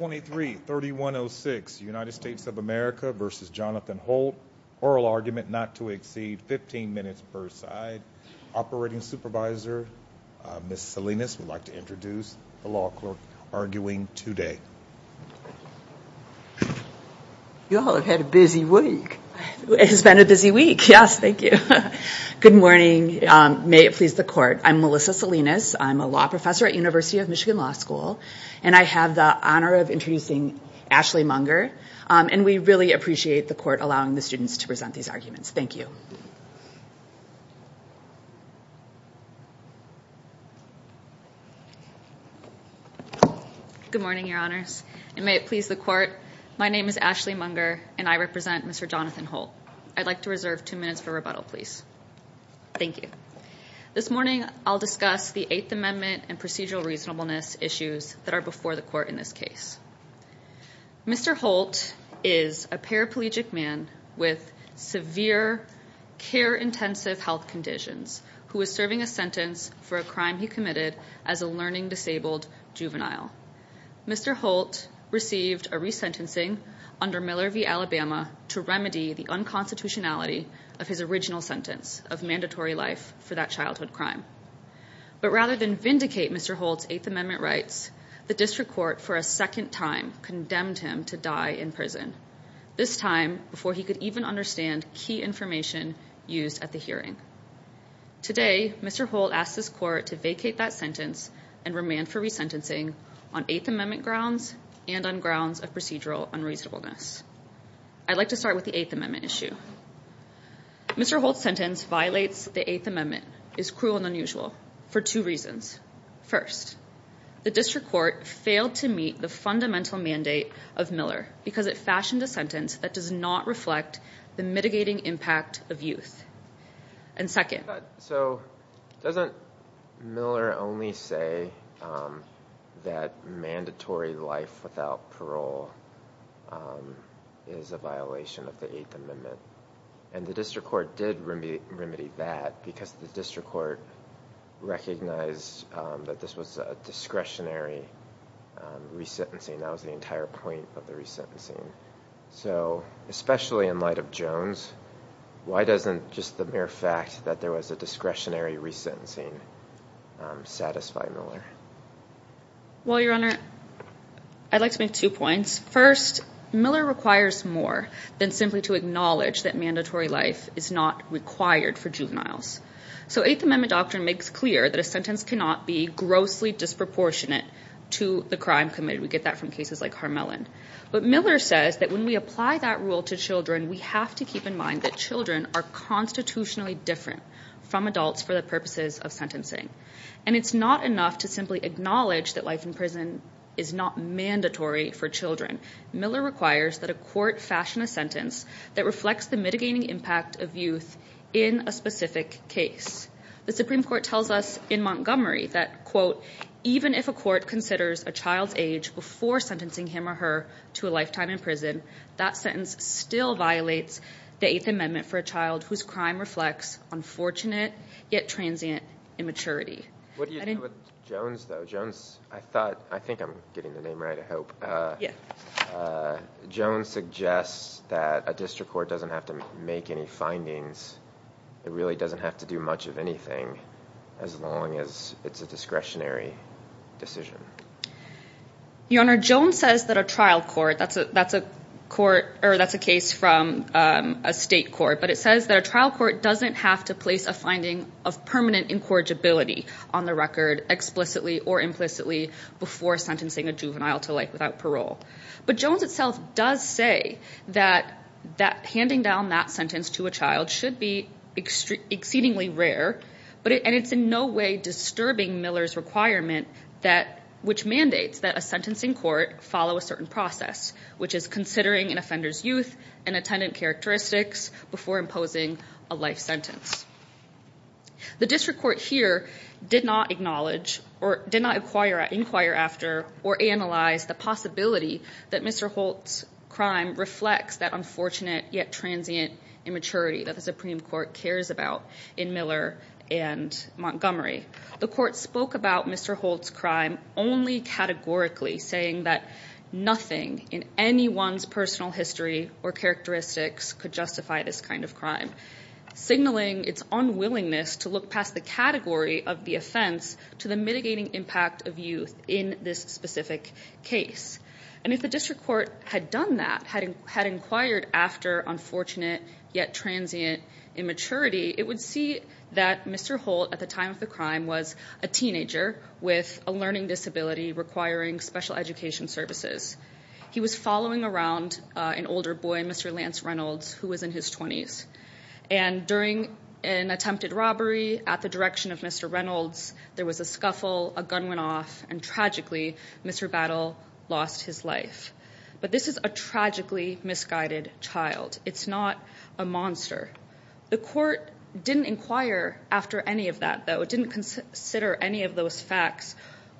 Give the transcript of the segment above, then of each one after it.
23-3106 United States of America v. Johnathan Holt. Oral argument not to exceed 15 minutes per side. Operating Supervisor Ms. Salinas would like to introduce the law clerk arguing today. You all have had a busy week. It has been a busy week. Yes, thank you. Good morning. May it please the court. I'm Melissa Salinas. I'm a law professor at University of Michigan Law School and I have the honor of introducing Ashley Munger and we really appreciate the court allowing the students to present these arguments. Thank you. Good morning, your honors. May it please the court. My name is Ashley Munger and I represent Mr. Johnathan Holt. I'd like to reserve two minutes for rebuttal, please. Thank you. This morning I'll discuss the Eighth Amendment and procedural reasonableness issues that are before the court in this case. Mr. Holt is a paraplegic man with severe care-intensive health conditions who is serving a sentence for a crime he committed as a learning disabled juvenile. Mr. Holt received a resentencing under Miller v. Alabama to remedy the unconstitutionality of his original sentence of mandatory life for that childhood crime. But rather than vindicate Mr. Holt's Eighth Amendment rights, the district court for a second time condemned him to die in prison. This time before he could even understand key information used at the hearing. Today, Mr. Holt asked this court to vacate that sentence and remand for resentencing on Eighth Amendment grounds and on grounds of procedural unreasonableness. I'd like to start with the Eighth Amendment issue. Mr. Holt's sentence violates the Eighth Amendment is cruel and unusual for two reasons. First, the district court failed to meet the fundamental mandate of Miller because it fashioned a sentence that does not reflect the mitigating impact of youth. And second, so doesn't Miller only say that mandatory life without parole is a violation of the Eighth Amendment? And the district court did remedy that because the district court recognized that this was a discretionary resentencing. That was the entire point of the resentencing. So especially in light of Jones, why doesn't just the mere fact that there was a discretionary resentencing satisfy Miller? Well, Your Honor, I'd like to make two points. First, Miller requires more than simply to acknowledge that mandatory life is not required for juveniles. So Eighth Amendment doctrine makes clear that a sentence cannot be grossly disproportionate to the crime committed. We get that from cases like Harmelin. But Miller says that when we apply that rule to children, we have to keep in mind that children are constitutionally different from adults for the purposes of sentencing. And it's not enough to simply acknowledge that life in prison is not mandatory for children. Miller requires that a court fashion a sentence that reflects the mitigating impact of youth in a specific case. The Supreme Court tells us in Montgomery that, quote, even if a court considers a child's age before sentencing him or her to a crime, it still violates the Eighth Amendment for a child whose crime reflects unfortunate yet transient immaturity. What do you do with Jones, though? Jones, I thought, I think I'm getting the name right, I hope. Yeah. Jones suggests that a district court doesn't have to make any findings. It really doesn't have to do much of anything as long as it's a discretionary decision. Your Honor, Jones says that a trial court, that's a court, or that's a case from a state court, but it says that a trial court doesn't have to place a finding of permanent incorrigibility on the record explicitly or implicitly before sentencing a juvenile to life without parole. But Jones itself does say that handing down that sentence to a child should be exceedingly rare, and it's in no way disturbing Miller's requirement that, which mandates that a sentencing court follow a certain process, which is considering an offender's youth and attendant characteristics before imposing a life sentence. The district court here did not acknowledge or did not inquire after or analyze the possibility that Mr. Holt's crime reflects that unfortunate yet transient immaturity that the Supreme Court cares about in Miller and Montgomery. The court spoke about Mr. Holt's crime only categorically, saying that nothing in anyone's personal history or characteristics could justify this kind of crime, signaling its unwillingness to look past the category of the offense to the mitigating impact of youth in this specific case. And if the district court had done that, had inquired after unfortunate yet transient immaturity, it would see that Mr. Holt at the time of the crime was a teenager with a learning disability requiring special education services. He was following around an older boy, Mr. Lance Reynolds, who was in his twenties. And during an attempted robbery at the direction of Mr. Reynolds, there was a scuffle, a gun went off, and tragically, Mr. Battle lost his life. But this is a tragically misguided child. It's not a monster. The court didn't inquire after any of that, though. It didn't consider any of those facts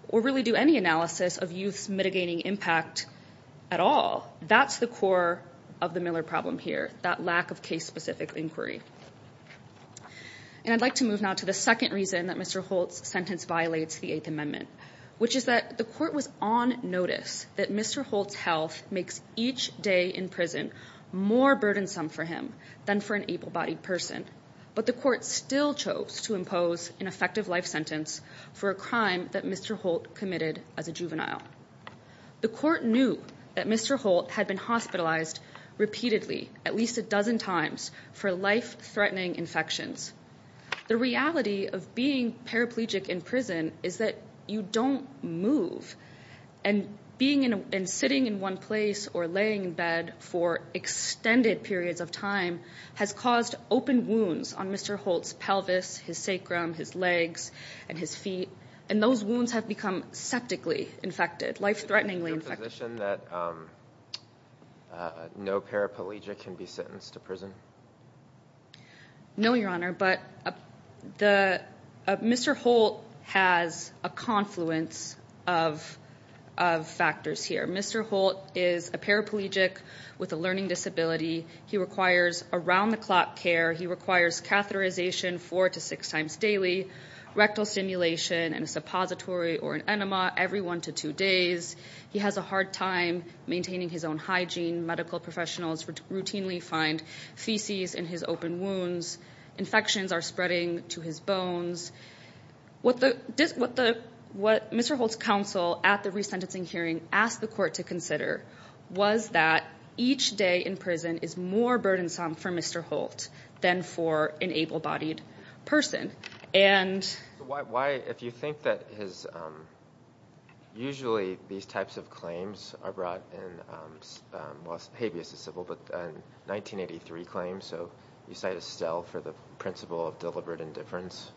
or really do any analysis of youth's mitigating impact at all. That's the core of the Miller problem here, that lack of case-specific inquiry. And I'd like to move now to the second reason that Mr. Holt's health makes each day in prison more burdensome for him than for an able-bodied person. But the court still chose to impose an effective life sentence for a crime that Mr. Holt committed as a juvenile. The court knew that Mr. Holt had been hospitalized repeatedly, at least a dozen times, for life-threatening infections. The reality of being paraplegic in prison is that you don't move. And sitting in one place or laying in bed for extended periods of time has caused open wounds on Mr. Holt's pelvis, his sacrum, his legs, and his feet. And those wounds have become septically infected, life-threateningly infected. Is it your position that no paraplegic can be sentenced to prison? No, Your Honor, but Mr. Holt has a confluence of factors here. Mr. Holt is a paraplegic with a learning disability. He requires around-the-clock care. He requires catheterization four to six times daily, rectal stimulation, and a suppository or an enema every one to two days. He has a hard time maintaining his own hygiene. Medical professionals routinely find feces in his open wounds. Infections are spreading to his bones. What Mr. Holt's counsel at the re-sentencing hearing asked the court to consider was that each day in prison is more burdensome for Mr. Holt than for an able-bodied person. Why, if you think that his, usually these types of claims are brought in, well habeas is civil, but 1983 claims, so you cite Estelle for the principle of deliberate indifference.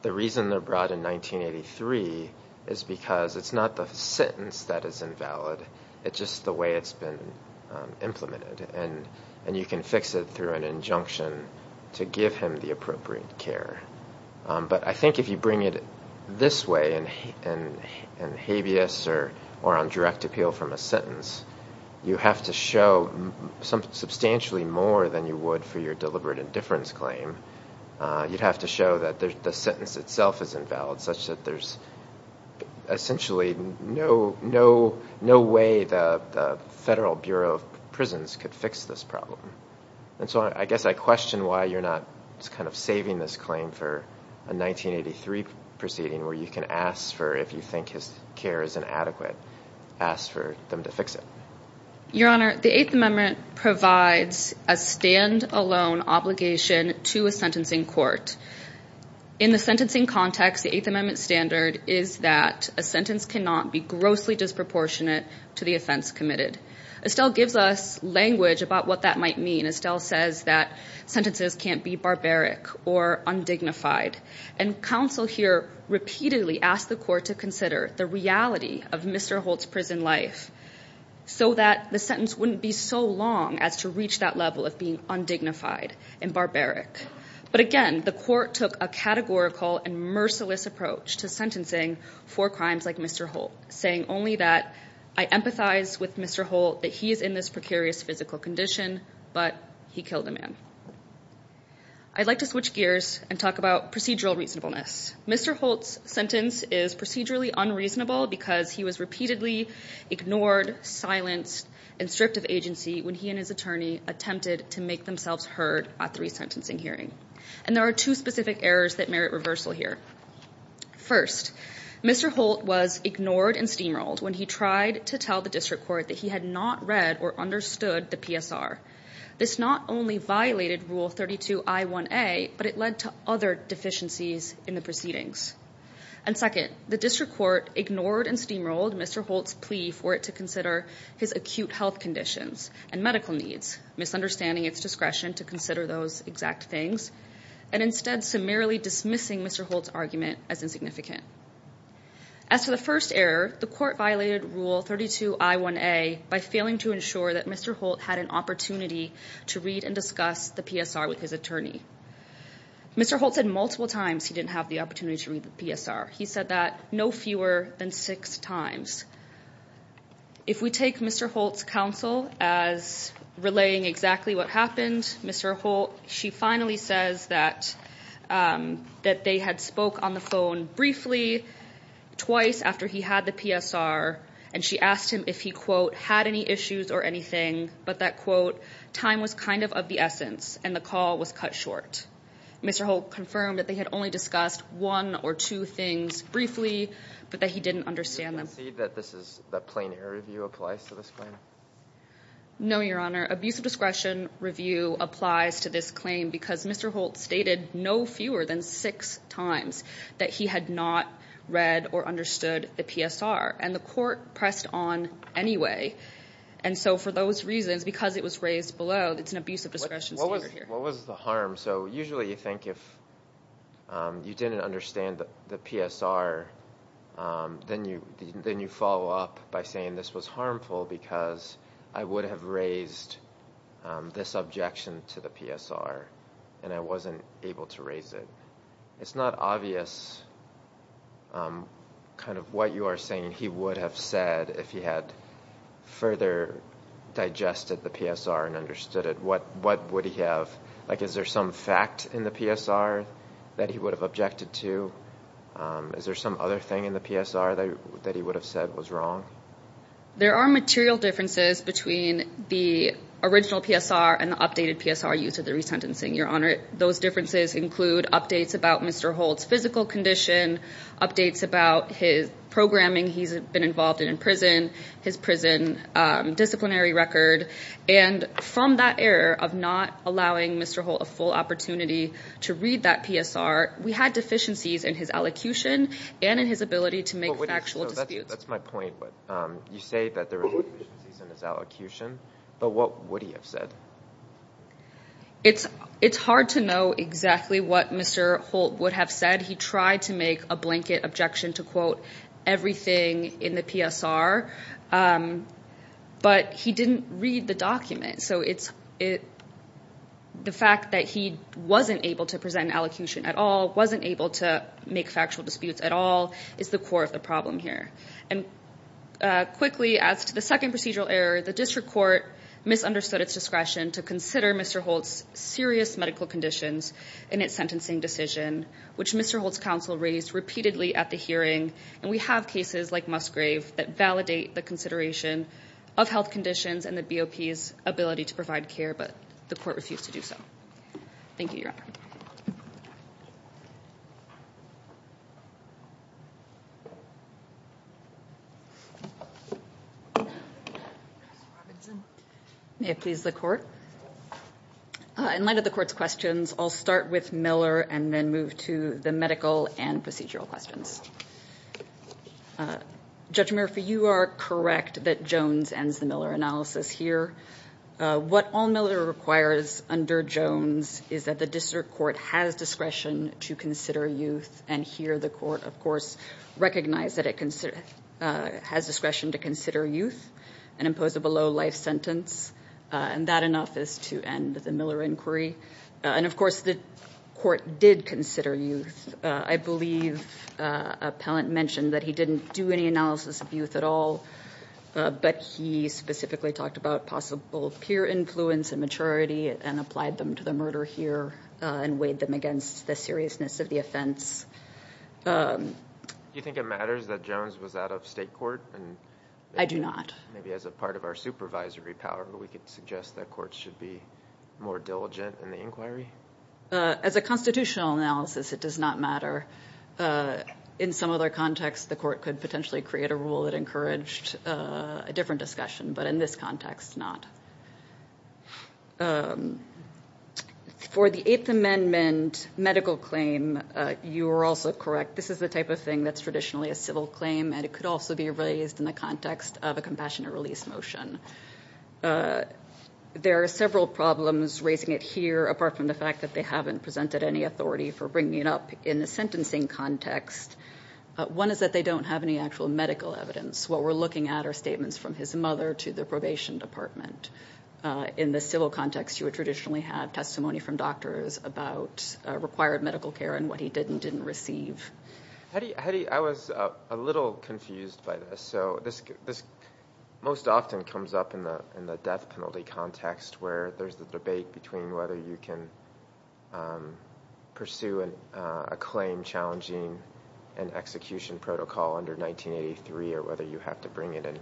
The reason they're brought in 1983 is because it's not the sentence that is invalid, it's just the way it's been implemented. And to give him the appropriate care. But I think if you bring it this way and habeas or on direct appeal from a sentence, you have to show substantially more than you would for your deliberate indifference claim. You'd have to show that the sentence itself is invalid, such that there's essentially no way the Federal Bureau of Prisons could fix this problem. And so I guess I question why you're not saving this claim for a 1983 proceeding where you can ask for, if you think his care is inadequate, ask for them to fix it. Your Honor, the Eighth Amendment provides a stand-alone obligation to a sentencing court. In the sentencing context, the Eighth Amendment standard is that a sentence cannot be grossly disproportionate to the offense might mean. Estelle says that sentences can't be barbaric or undignified. And counsel here repeatedly asked the court to consider the reality of Mr. Holt's prison life so that the sentence wouldn't be so long as to reach that level of being undignified and barbaric. But again, the court took a categorical and merciless approach to sentencing for crimes like Mr. Holt, saying only that I empathize with Mr. Holt that he is in this precarious physical condition, but he killed a man. I'd like to switch gears and talk about procedural reasonableness. Mr. Holt's sentence is procedurally unreasonable because he was repeatedly ignored, silenced, and stripped of agency when he and his attorney attempted to make themselves heard at the resentencing hearing. And there are two specific errors that merit reversal here. First, Mr. Holt was ignored and steamrolled when he tried to tell the district court that he had not read or understood the PSR. This not only violated Rule 32 I1A, but it led to other deficiencies in the proceedings. And second, the district court ignored and steamrolled Mr. Holt's plea for it to consider his acute health conditions and medical needs, misunderstanding its discretion to consider those exact things, and instead summarily dismissing Mr. Holt's argument as insignificant. As to the first error, the court violated Rule 32 I1A by failing to ensure that Mr. Holt had an opportunity to read and discuss the PSR with his attorney. Mr. Holt said multiple times he didn't have the opportunity to read the PSR. He said that no fewer than six times. If we take Mr. Holt's counsel as relaying exactly what happened, Mr. Holt, she finally says that that they had spoke on the phone briefly twice after he had the PSR, and she asked him if he quote, had any issues or anything, but that quote, time was kind of of the essence and the call was cut short. Mr. Holt confirmed that they had only discussed one or two things briefly, but that he didn't understand them. Do you concede that this is, that plain error review applies to this claim? No, Your Honor. Abuse of discretion review applies to this claim because Mr. Holt stated no fewer than six times that he had not read or understood the PSR, and the court pressed on anyway, and so for those reasons, because it was raised below, it's an abuse of discretion standard here. What was the harm? So usually you think if you didn't understand the PSR, then you follow up by saying this was harmful because I would have raised this objection to the PSR, and I wasn't able to raise it. It's not obvious kind of what you are saying he would have said if he had further digested the PSR and understood it. What would he have, like is there some fact in the PSR that he would have objected to? Is there some other thing in the PSR that he would have said was wrong? There are material differences between the original PSR and the updated PSR used for the resentencing, Your Honor. Those differences include updates about Mr. Holt's physical condition, updates about his programming he's been involved in in prison, his prison disciplinary record, and from that error of not allowing Mr. Holt a full opportunity to read that PSR, we had deficiencies in his allocution and in his ability to make factual disputes. That's my point, but you say that there deficiencies in his allocution, but what would he have said? It's hard to know exactly what Mr. Holt would have said. He tried to make a blanket objection to quote everything in the PSR, but he didn't read the document, so the fact that he wasn't able to present an allocution at all, wasn't able to make factual disputes at all, is the core of the problem here. And quickly, as to the second procedural error, the district court misunderstood its discretion to consider Mr. Holt's serious medical conditions in its sentencing decision, which Mr. Holt's counsel raised repeatedly at the hearing, and we have cases like Musgrave that validate the consideration of health conditions and the BOP's ability to provide care, but the court refused to do so. Thank you, Your Honor. May it please the court. In light of the court's questions, I'll start with Miller and then move to the medical and procedural questions. Judge Murphy, you are correct that Jones ends the Miller analysis here. What all Miller requires under Jones is that the district court has discretion to consider youth, and here the court, of course, recognized that it has discretion to consider youth and impose a below-life sentence, and that enough is to end the Miller inquiry. And, of course, the court did consider youth. I believe Appellant mentioned that he didn't do any analysis of youth at all, but he specifically talked about possible peer influence and maturity and applied them to the murder here and weighed them against the seriousness of the offense. Do you think it matters that Jones was out of state court? I do not. Maybe as a part of our supervisory power, we could suggest that courts should be more diligent in the inquiry? As a constitutional analysis, it does not matter. In some other contexts, the court could potentially create a rule that encouraged a different discussion, but in this context, not. For the Eighth Amendment medical claim, you were also correct. This is the type of thing that's traditionally a civil claim, and it could also be raised in the context of a compassionate release motion. There are several problems raising it here, apart from the fact that they haven't presented any authority for bringing it up in the sentencing context. One is that they don't have any actual medical evidence. What we're looking at are statements from his mother to the probation department. In the civil context, you would traditionally have testimony from doctors about required medical care and what he did and didn't receive. I was a little confused by this. This most often comes up in the death penalty context, where there's the debate between whether you can pursue a claim challenging an execution protocol under 1983, or whether you have to bring it in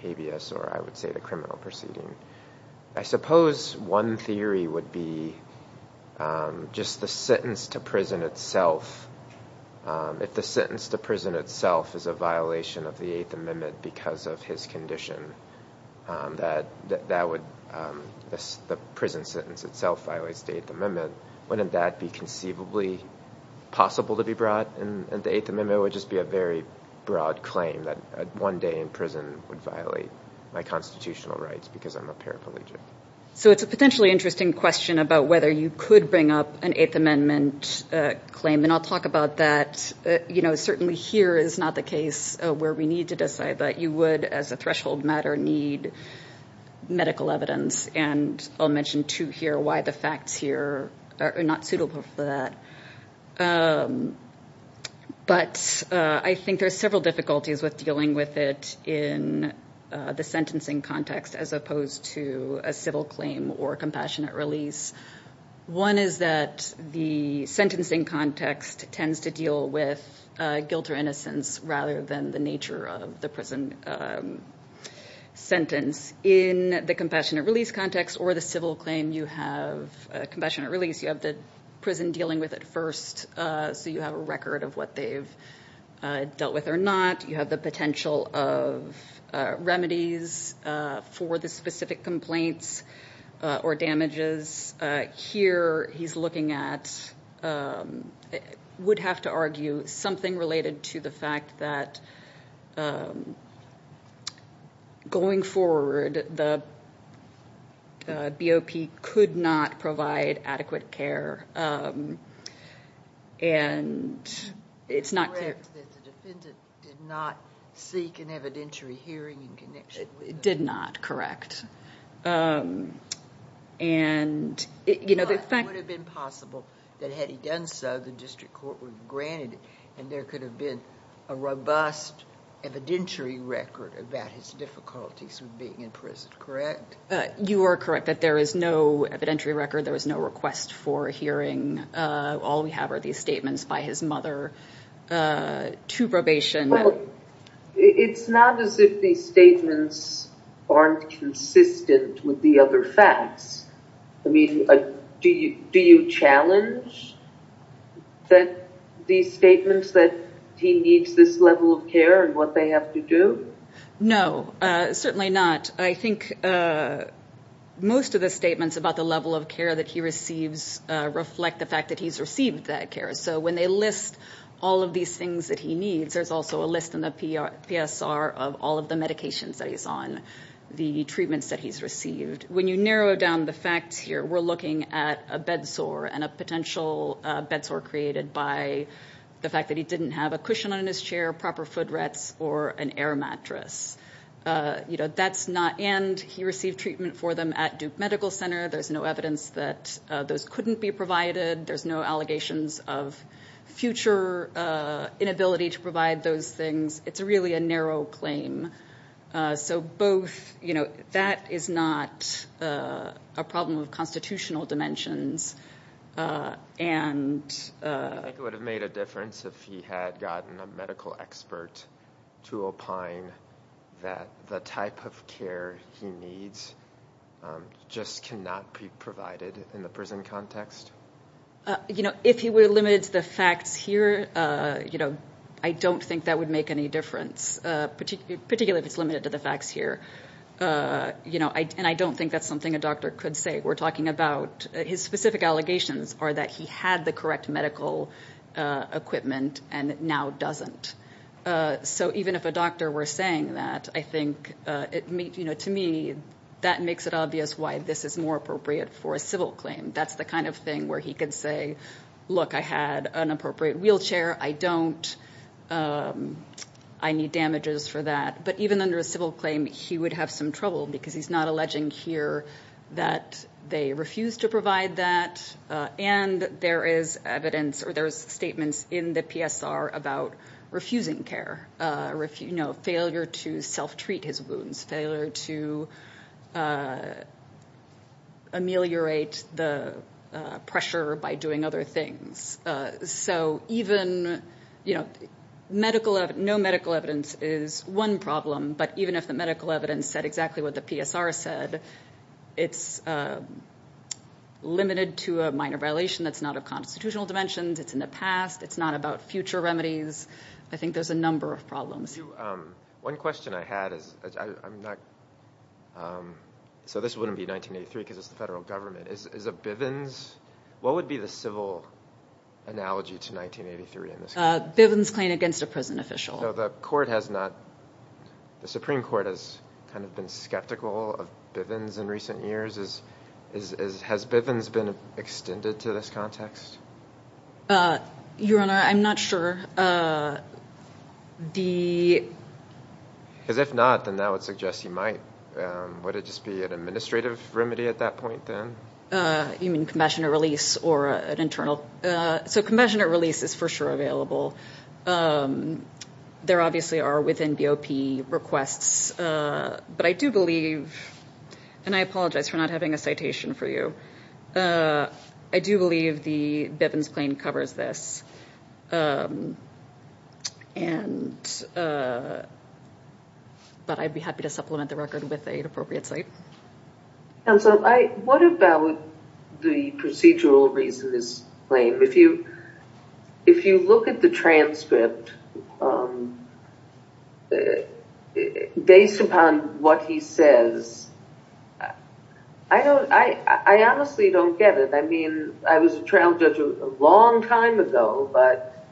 habeas, or I would say the criminal proceeding. I suppose one theory would be just the sentence to prison itself. If the sentence to prison itself is a violation of the Eighth Amendment because of his condition, that the prison sentence itself violates the Eighth Amendment, wouldn't that be conceivably possible to be brought in the Eighth Amendment? It would just be a very broad claim that one day in prison would violate my constitutional rights because I'm a paraplegic. So it's a potentially interesting question about whether you could bring up an Eighth Amendment claim. I'll talk about that. Certainly here is not the case where we need to decide that. You would, as a threshold matter, need medical evidence. I'll mention, too, why the facts here are not suitable for that. I think there are several difficulties with dealing with it in the sentencing context, as opposed to a civil claim or compassionate release. One is that the sentencing context tends to deal with guilt or innocence rather than the nature of the prison sentence. In the compassionate release context or the civil claim, you have compassionate release. You have the prison dealing with it first, so you have a record of what they've dealt with or not. You have the potential of remedies for the specific complaints or damages. Here, he's looking at, would have to argue, something related to the fact that, going forward, the BOP could not provide adequate care. It's correct that the defendant did not seek an evidentiary hearing in connection with it. It did not, correct. It would have been possible that, had he done so, the district court would have granted it, and there could have been a robust evidentiary record about his difficulties with being in prison, correct? You are correct that there is no evidentiary record. There was no request for a hearing. All we have are these statements by his mother to probation. It's not as if these statements aren't consistent with the other facts. I mean, do you do you challenge that these statements that he needs this level of care and what they have to do? No, certainly not. I think most of the statements about the level of care that he receives reflect the fact that he's received that care. So when they list all of these things that he needs, there's also a list in the PSR of all of the medications that he's on, the treatments that he's received. When you narrow down the facts here, we're looking at a bedsore and a potential bedsore created by the fact that he didn't have a cushion on his chair, proper foot rests, or an air mattress. And he received treatment for them at Duke Medical Center. There's no evidence that those couldn't be provided. There's no allegations of future inability to provide those things. It's really a narrow claim. So that is not a problem of constitutional dimensions. I think it would have made a difference if he had gotten a medical expert to opine that the type of care he needs just cannot be provided in the prison context. You know, if he were limited to the facts here, you know, I don't think that would make any difference, particularly if it's limited to the facts here. You know, and I don't think that's something a doctor could say. We're talking about his specific allegations are that he had the medical equipment and now doesn't. So even if a doctor were saying that, I think, you know, to me, that makes it obvious why this is more appropriate for a civil claim. That's the kind of thing where he could say, look, I had an appropriate wheelchair. I don't. I need damages for that. But even under a civil claim, he would have some trouble because he's not alleging here that they refused to provide that. And there is evidence or there's statements in the PSR about refusing care, you know, failure to self treat his wounds, failure to ameliorate the pressure by doing other things. So even, you know, medical, no medical evidence is one problem. But even if the medical evidence said exactly what the PSR said, it's limited to a minor violation that's not of constitutional dimensions. It's in the past. It's not about future remedies. I think there's a number of problems. One question I had is, I'm not, so this wouldn't be 1983 because it's the federal government, is a Bivens, what would be the civil analogy to 1983? A Bivens claim against a prison official. So the court has not, the Supreme Court has kind of been skeptical of Bivens in recent years. Has Bivens been extended to this context? Your Honor, I'm not sure. Because if not, then that would suggest you might. Would it just be an administrative remedy at that point then? You mean compassionate release or an internal? So compassionate release is for sure available. There obviously are within BOP requests. But I do believe, and I apologize for not having a citation for you, I do believe the Bivens claim covers this. And, but I'd be happy to supplement the record with an appropriate site. And so I, what about the procedural reason this claim? If you, if you look at the transcript, based upon what he says, I don't, I honestly don't get it. I mean, I was a trial judge a long time ago, but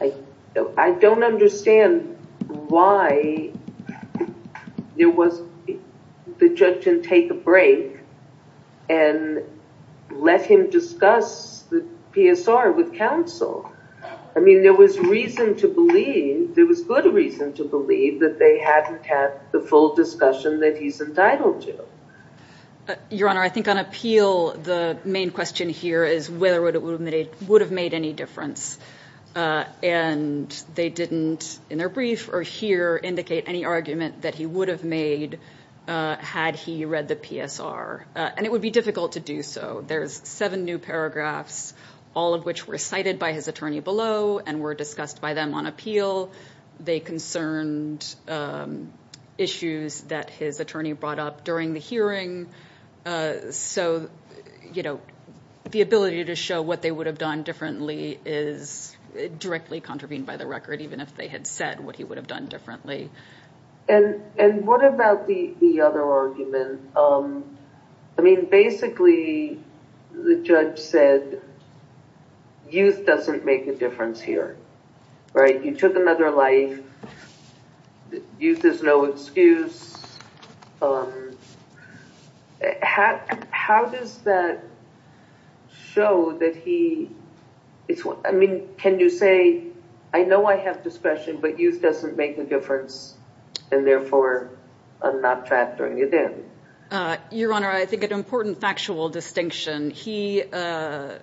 I don't understand why there was, the judge didn't take a let him discuss the PSR with counsel. I mean, there was reason to believe, there was good reason to believe that they hadn't had the full discussion that he's entitled to. Your Honor, I think on appeal, the main question here is whether it would have made any difference. And they didn't, in their brief or here, indicate any argument that he would have made had he read the PSR. And it would be difficult to do so. There's seven new paragraphs, all of which were cited by his attorney below and were discussed by them on appeal. They concerned issues that his attorney brought up during the hearing. So, you know, the ability to show what they would have done differently is directly contravened by the record, even if they had said what he would have done differently. And what about the other argument? I mean, basically, the judge said, youth doesn't make a difference here, right? You took another life, youth is no excuse. How does that show that he, I mean, can you say, I know I have discretion, but youth doesn't make a difference, and therefore, I'm not factoring it in? Your Honor, I think an important factual distinction, he, in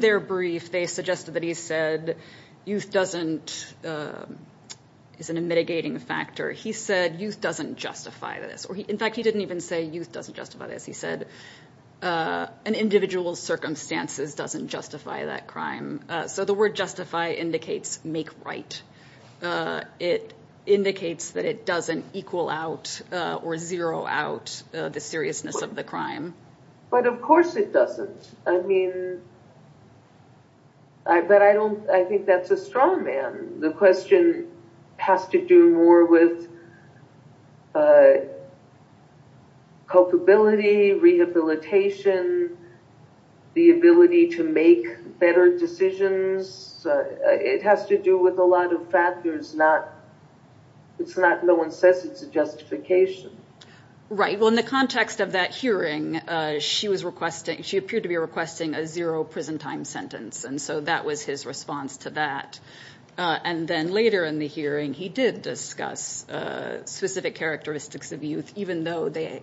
their brief, they suggested that he said, youth doesn't, isn't a mitigating factor. He said, youth doesn't justify this. In fact, he didn't even say youth doesn't justify this. He said, an individual's circumstances doesn't justify that crime. So the word justify indicates make right. It indicates that it doesn't equal out or zero out the seriousness of the crime. But of course it doesn't. I mean, but I don't, I think that's a strong man. The question has to do more with culpability, rehabilitation, the ability to make better decisions. It has to do with a lot of factors, not, it's not, no one says it's a justification. Right. Well, in the context of that hearing, she was requesting, she appeared to be requesting a zero prison time sentence. And so that was his response to that. And then later in the hearing, he did discuss specific characteristics of youth, even though they,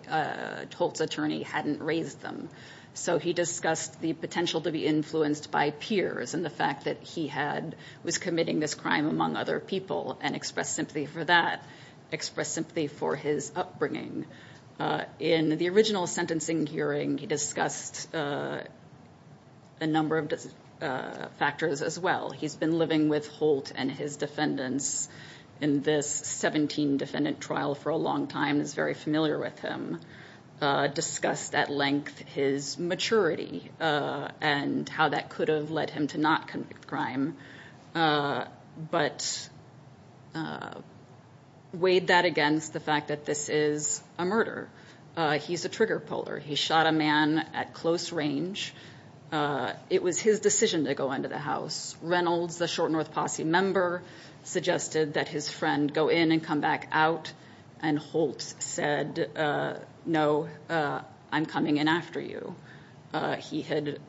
Holt's attorney hadn't raised them. So he discussed the potential to be influenced by peers and the fact that he had, was committing this crime among other people and express sympathy for that, express sympathy for his upbringing. In the original sentencing hearing, he discussed a number of factors as well. He's been living with Holt and his defendants in this 17 defendant trial for a long time, is very familiar with him. Discussed at length his maturity and how that could have led him to not commit the crime. But weighed that against the fact that this is a murder. He's a trigger puller. He shot a man at close range. It was his decision to go into the house. Reynolds, the short North Posse member, suggested that his friend go in and come back out. And Holt said, no, I'm coming in after you. He had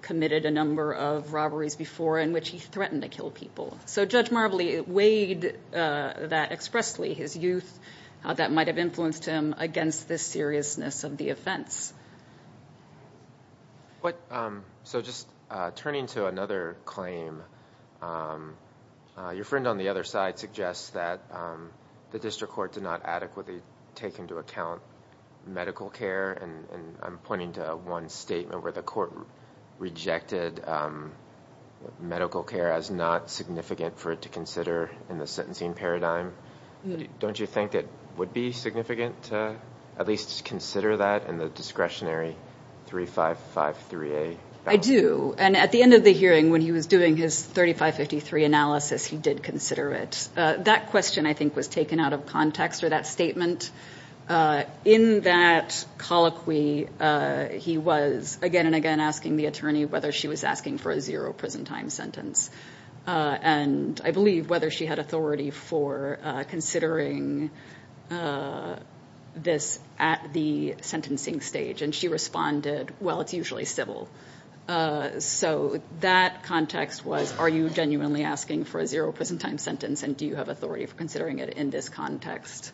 committed a number of robberies before in which he threatened to kill people. So Judge Marbley weighed that expressly, his youth, how that might have influenced him against this seriousness of the offense. So just turning to another claim, your friend on the other side suggests that the district court did not adequately take into account medical care. And I'm pointing to one statement where the court rejected medical care as not significant for it to consider in the sentencing paradigm. Don't you think it would be significant to at least consider that in the discretionary 3553A? I do. And at the end of the hearing, when he was doing his 3553 analysis, he did consider it. That question, I think, was taken out of context or that statement. In that colloquy, he was again and again asking the attorney whether she was asking for a zero prison time sentence. And I believe whether she had authority for considering this at the sentencing stage. And she responded, well, it's usually civil. So that context was, are you genuinely asking for a zero prison time sentence? And do you have authority for considering it in this context?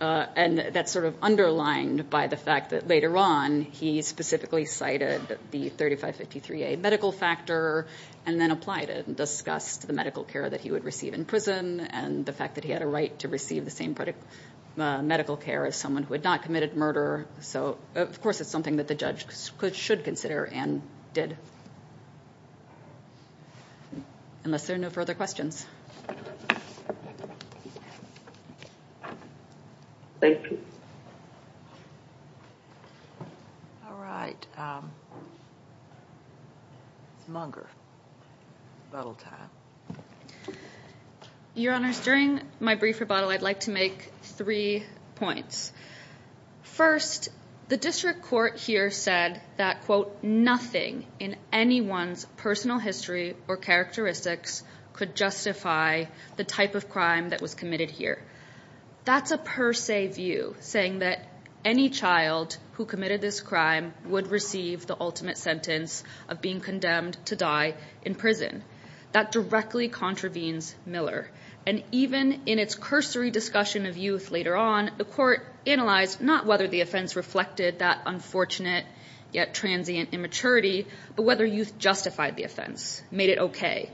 And that's sort of underlined by the fact that later on, he specifically cited the 3553A medical factor, and then applied it and discussed the medical care that he would receive in prison, and the fact that he had a right to receive the same medical care as someone who had not committed murder. So of course, it's something that the judge should consider and did. Unless there are no further questions. Thank you. All right. Munger. Your Honor, during my brief rebuttal, I'd like to make three points. First, the district court here said that, quote, nothing in anyone's personal history or characteristics could justify the type of crime that was committed here. That's a per se view, saying that any child who committed this crime would receive the ultimate sentence of being condemned to die in prison. That directly contravenes Miller. And even in its cursory discussion of youth later on, the court analyzed not whether the offense reflected that unfortunate, yet transient immaturity, but whether youth justified the offense, made it okay.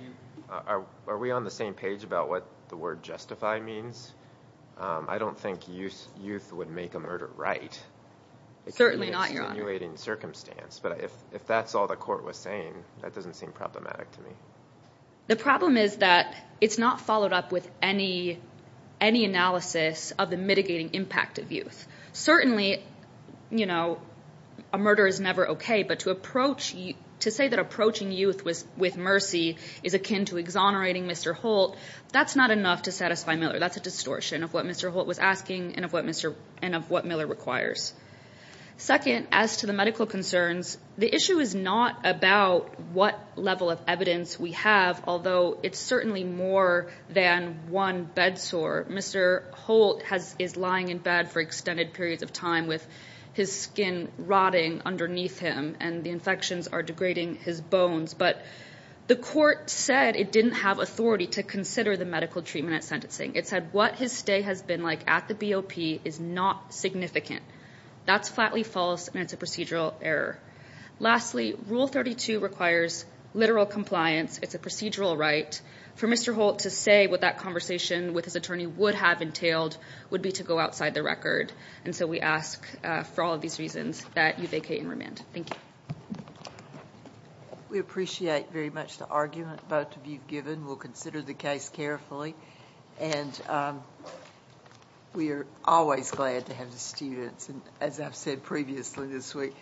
Are we on the same page about what the word justify means? I don't think youth would make a murder right. Certainly not, Your Honor. It's an extenuating circumstance, but if that's all the court was saying, that doesn't seem problematic to me. The problem is that it's not followed up with any analysis of the mitigating impact of youth. Certainly, a murder is never okay, but to say that approaching youth with mercy is akin to exonerating Mr. Holt, that's not enough to satisfy Miller. That's a distortion of what Mr. Holt was asking and of what Miller requires. Second, as to the medical concerns, the issue is not about what level of evidence we have, although it's certainly more than one bedsore. Mr. Holt is lying in bed for extended periods of time with his skin rotting underneath him and the infections are degrading his bones. But the court said it didn't have authority to consider the medical treatment at sentencing. It said what his stay has been like at the BOP is not significant. That's flatly false and it's a procedural error. Lastly, Rule 32 requires literal compliance. It's a procedural right for Mr. Holt to say what that conversation with his attorney would have entailed would be to go outside the record. And so we ask for all of these reasons that you vacate and remand. Thank you. We appreciate very much the argument both of you've given. We'll consider the case carefully and we are always glad to have the students. And as I've said previously this week,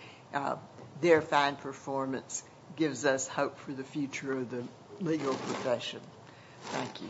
their fine performance gives us hope for the future of the legal profession. Thank you.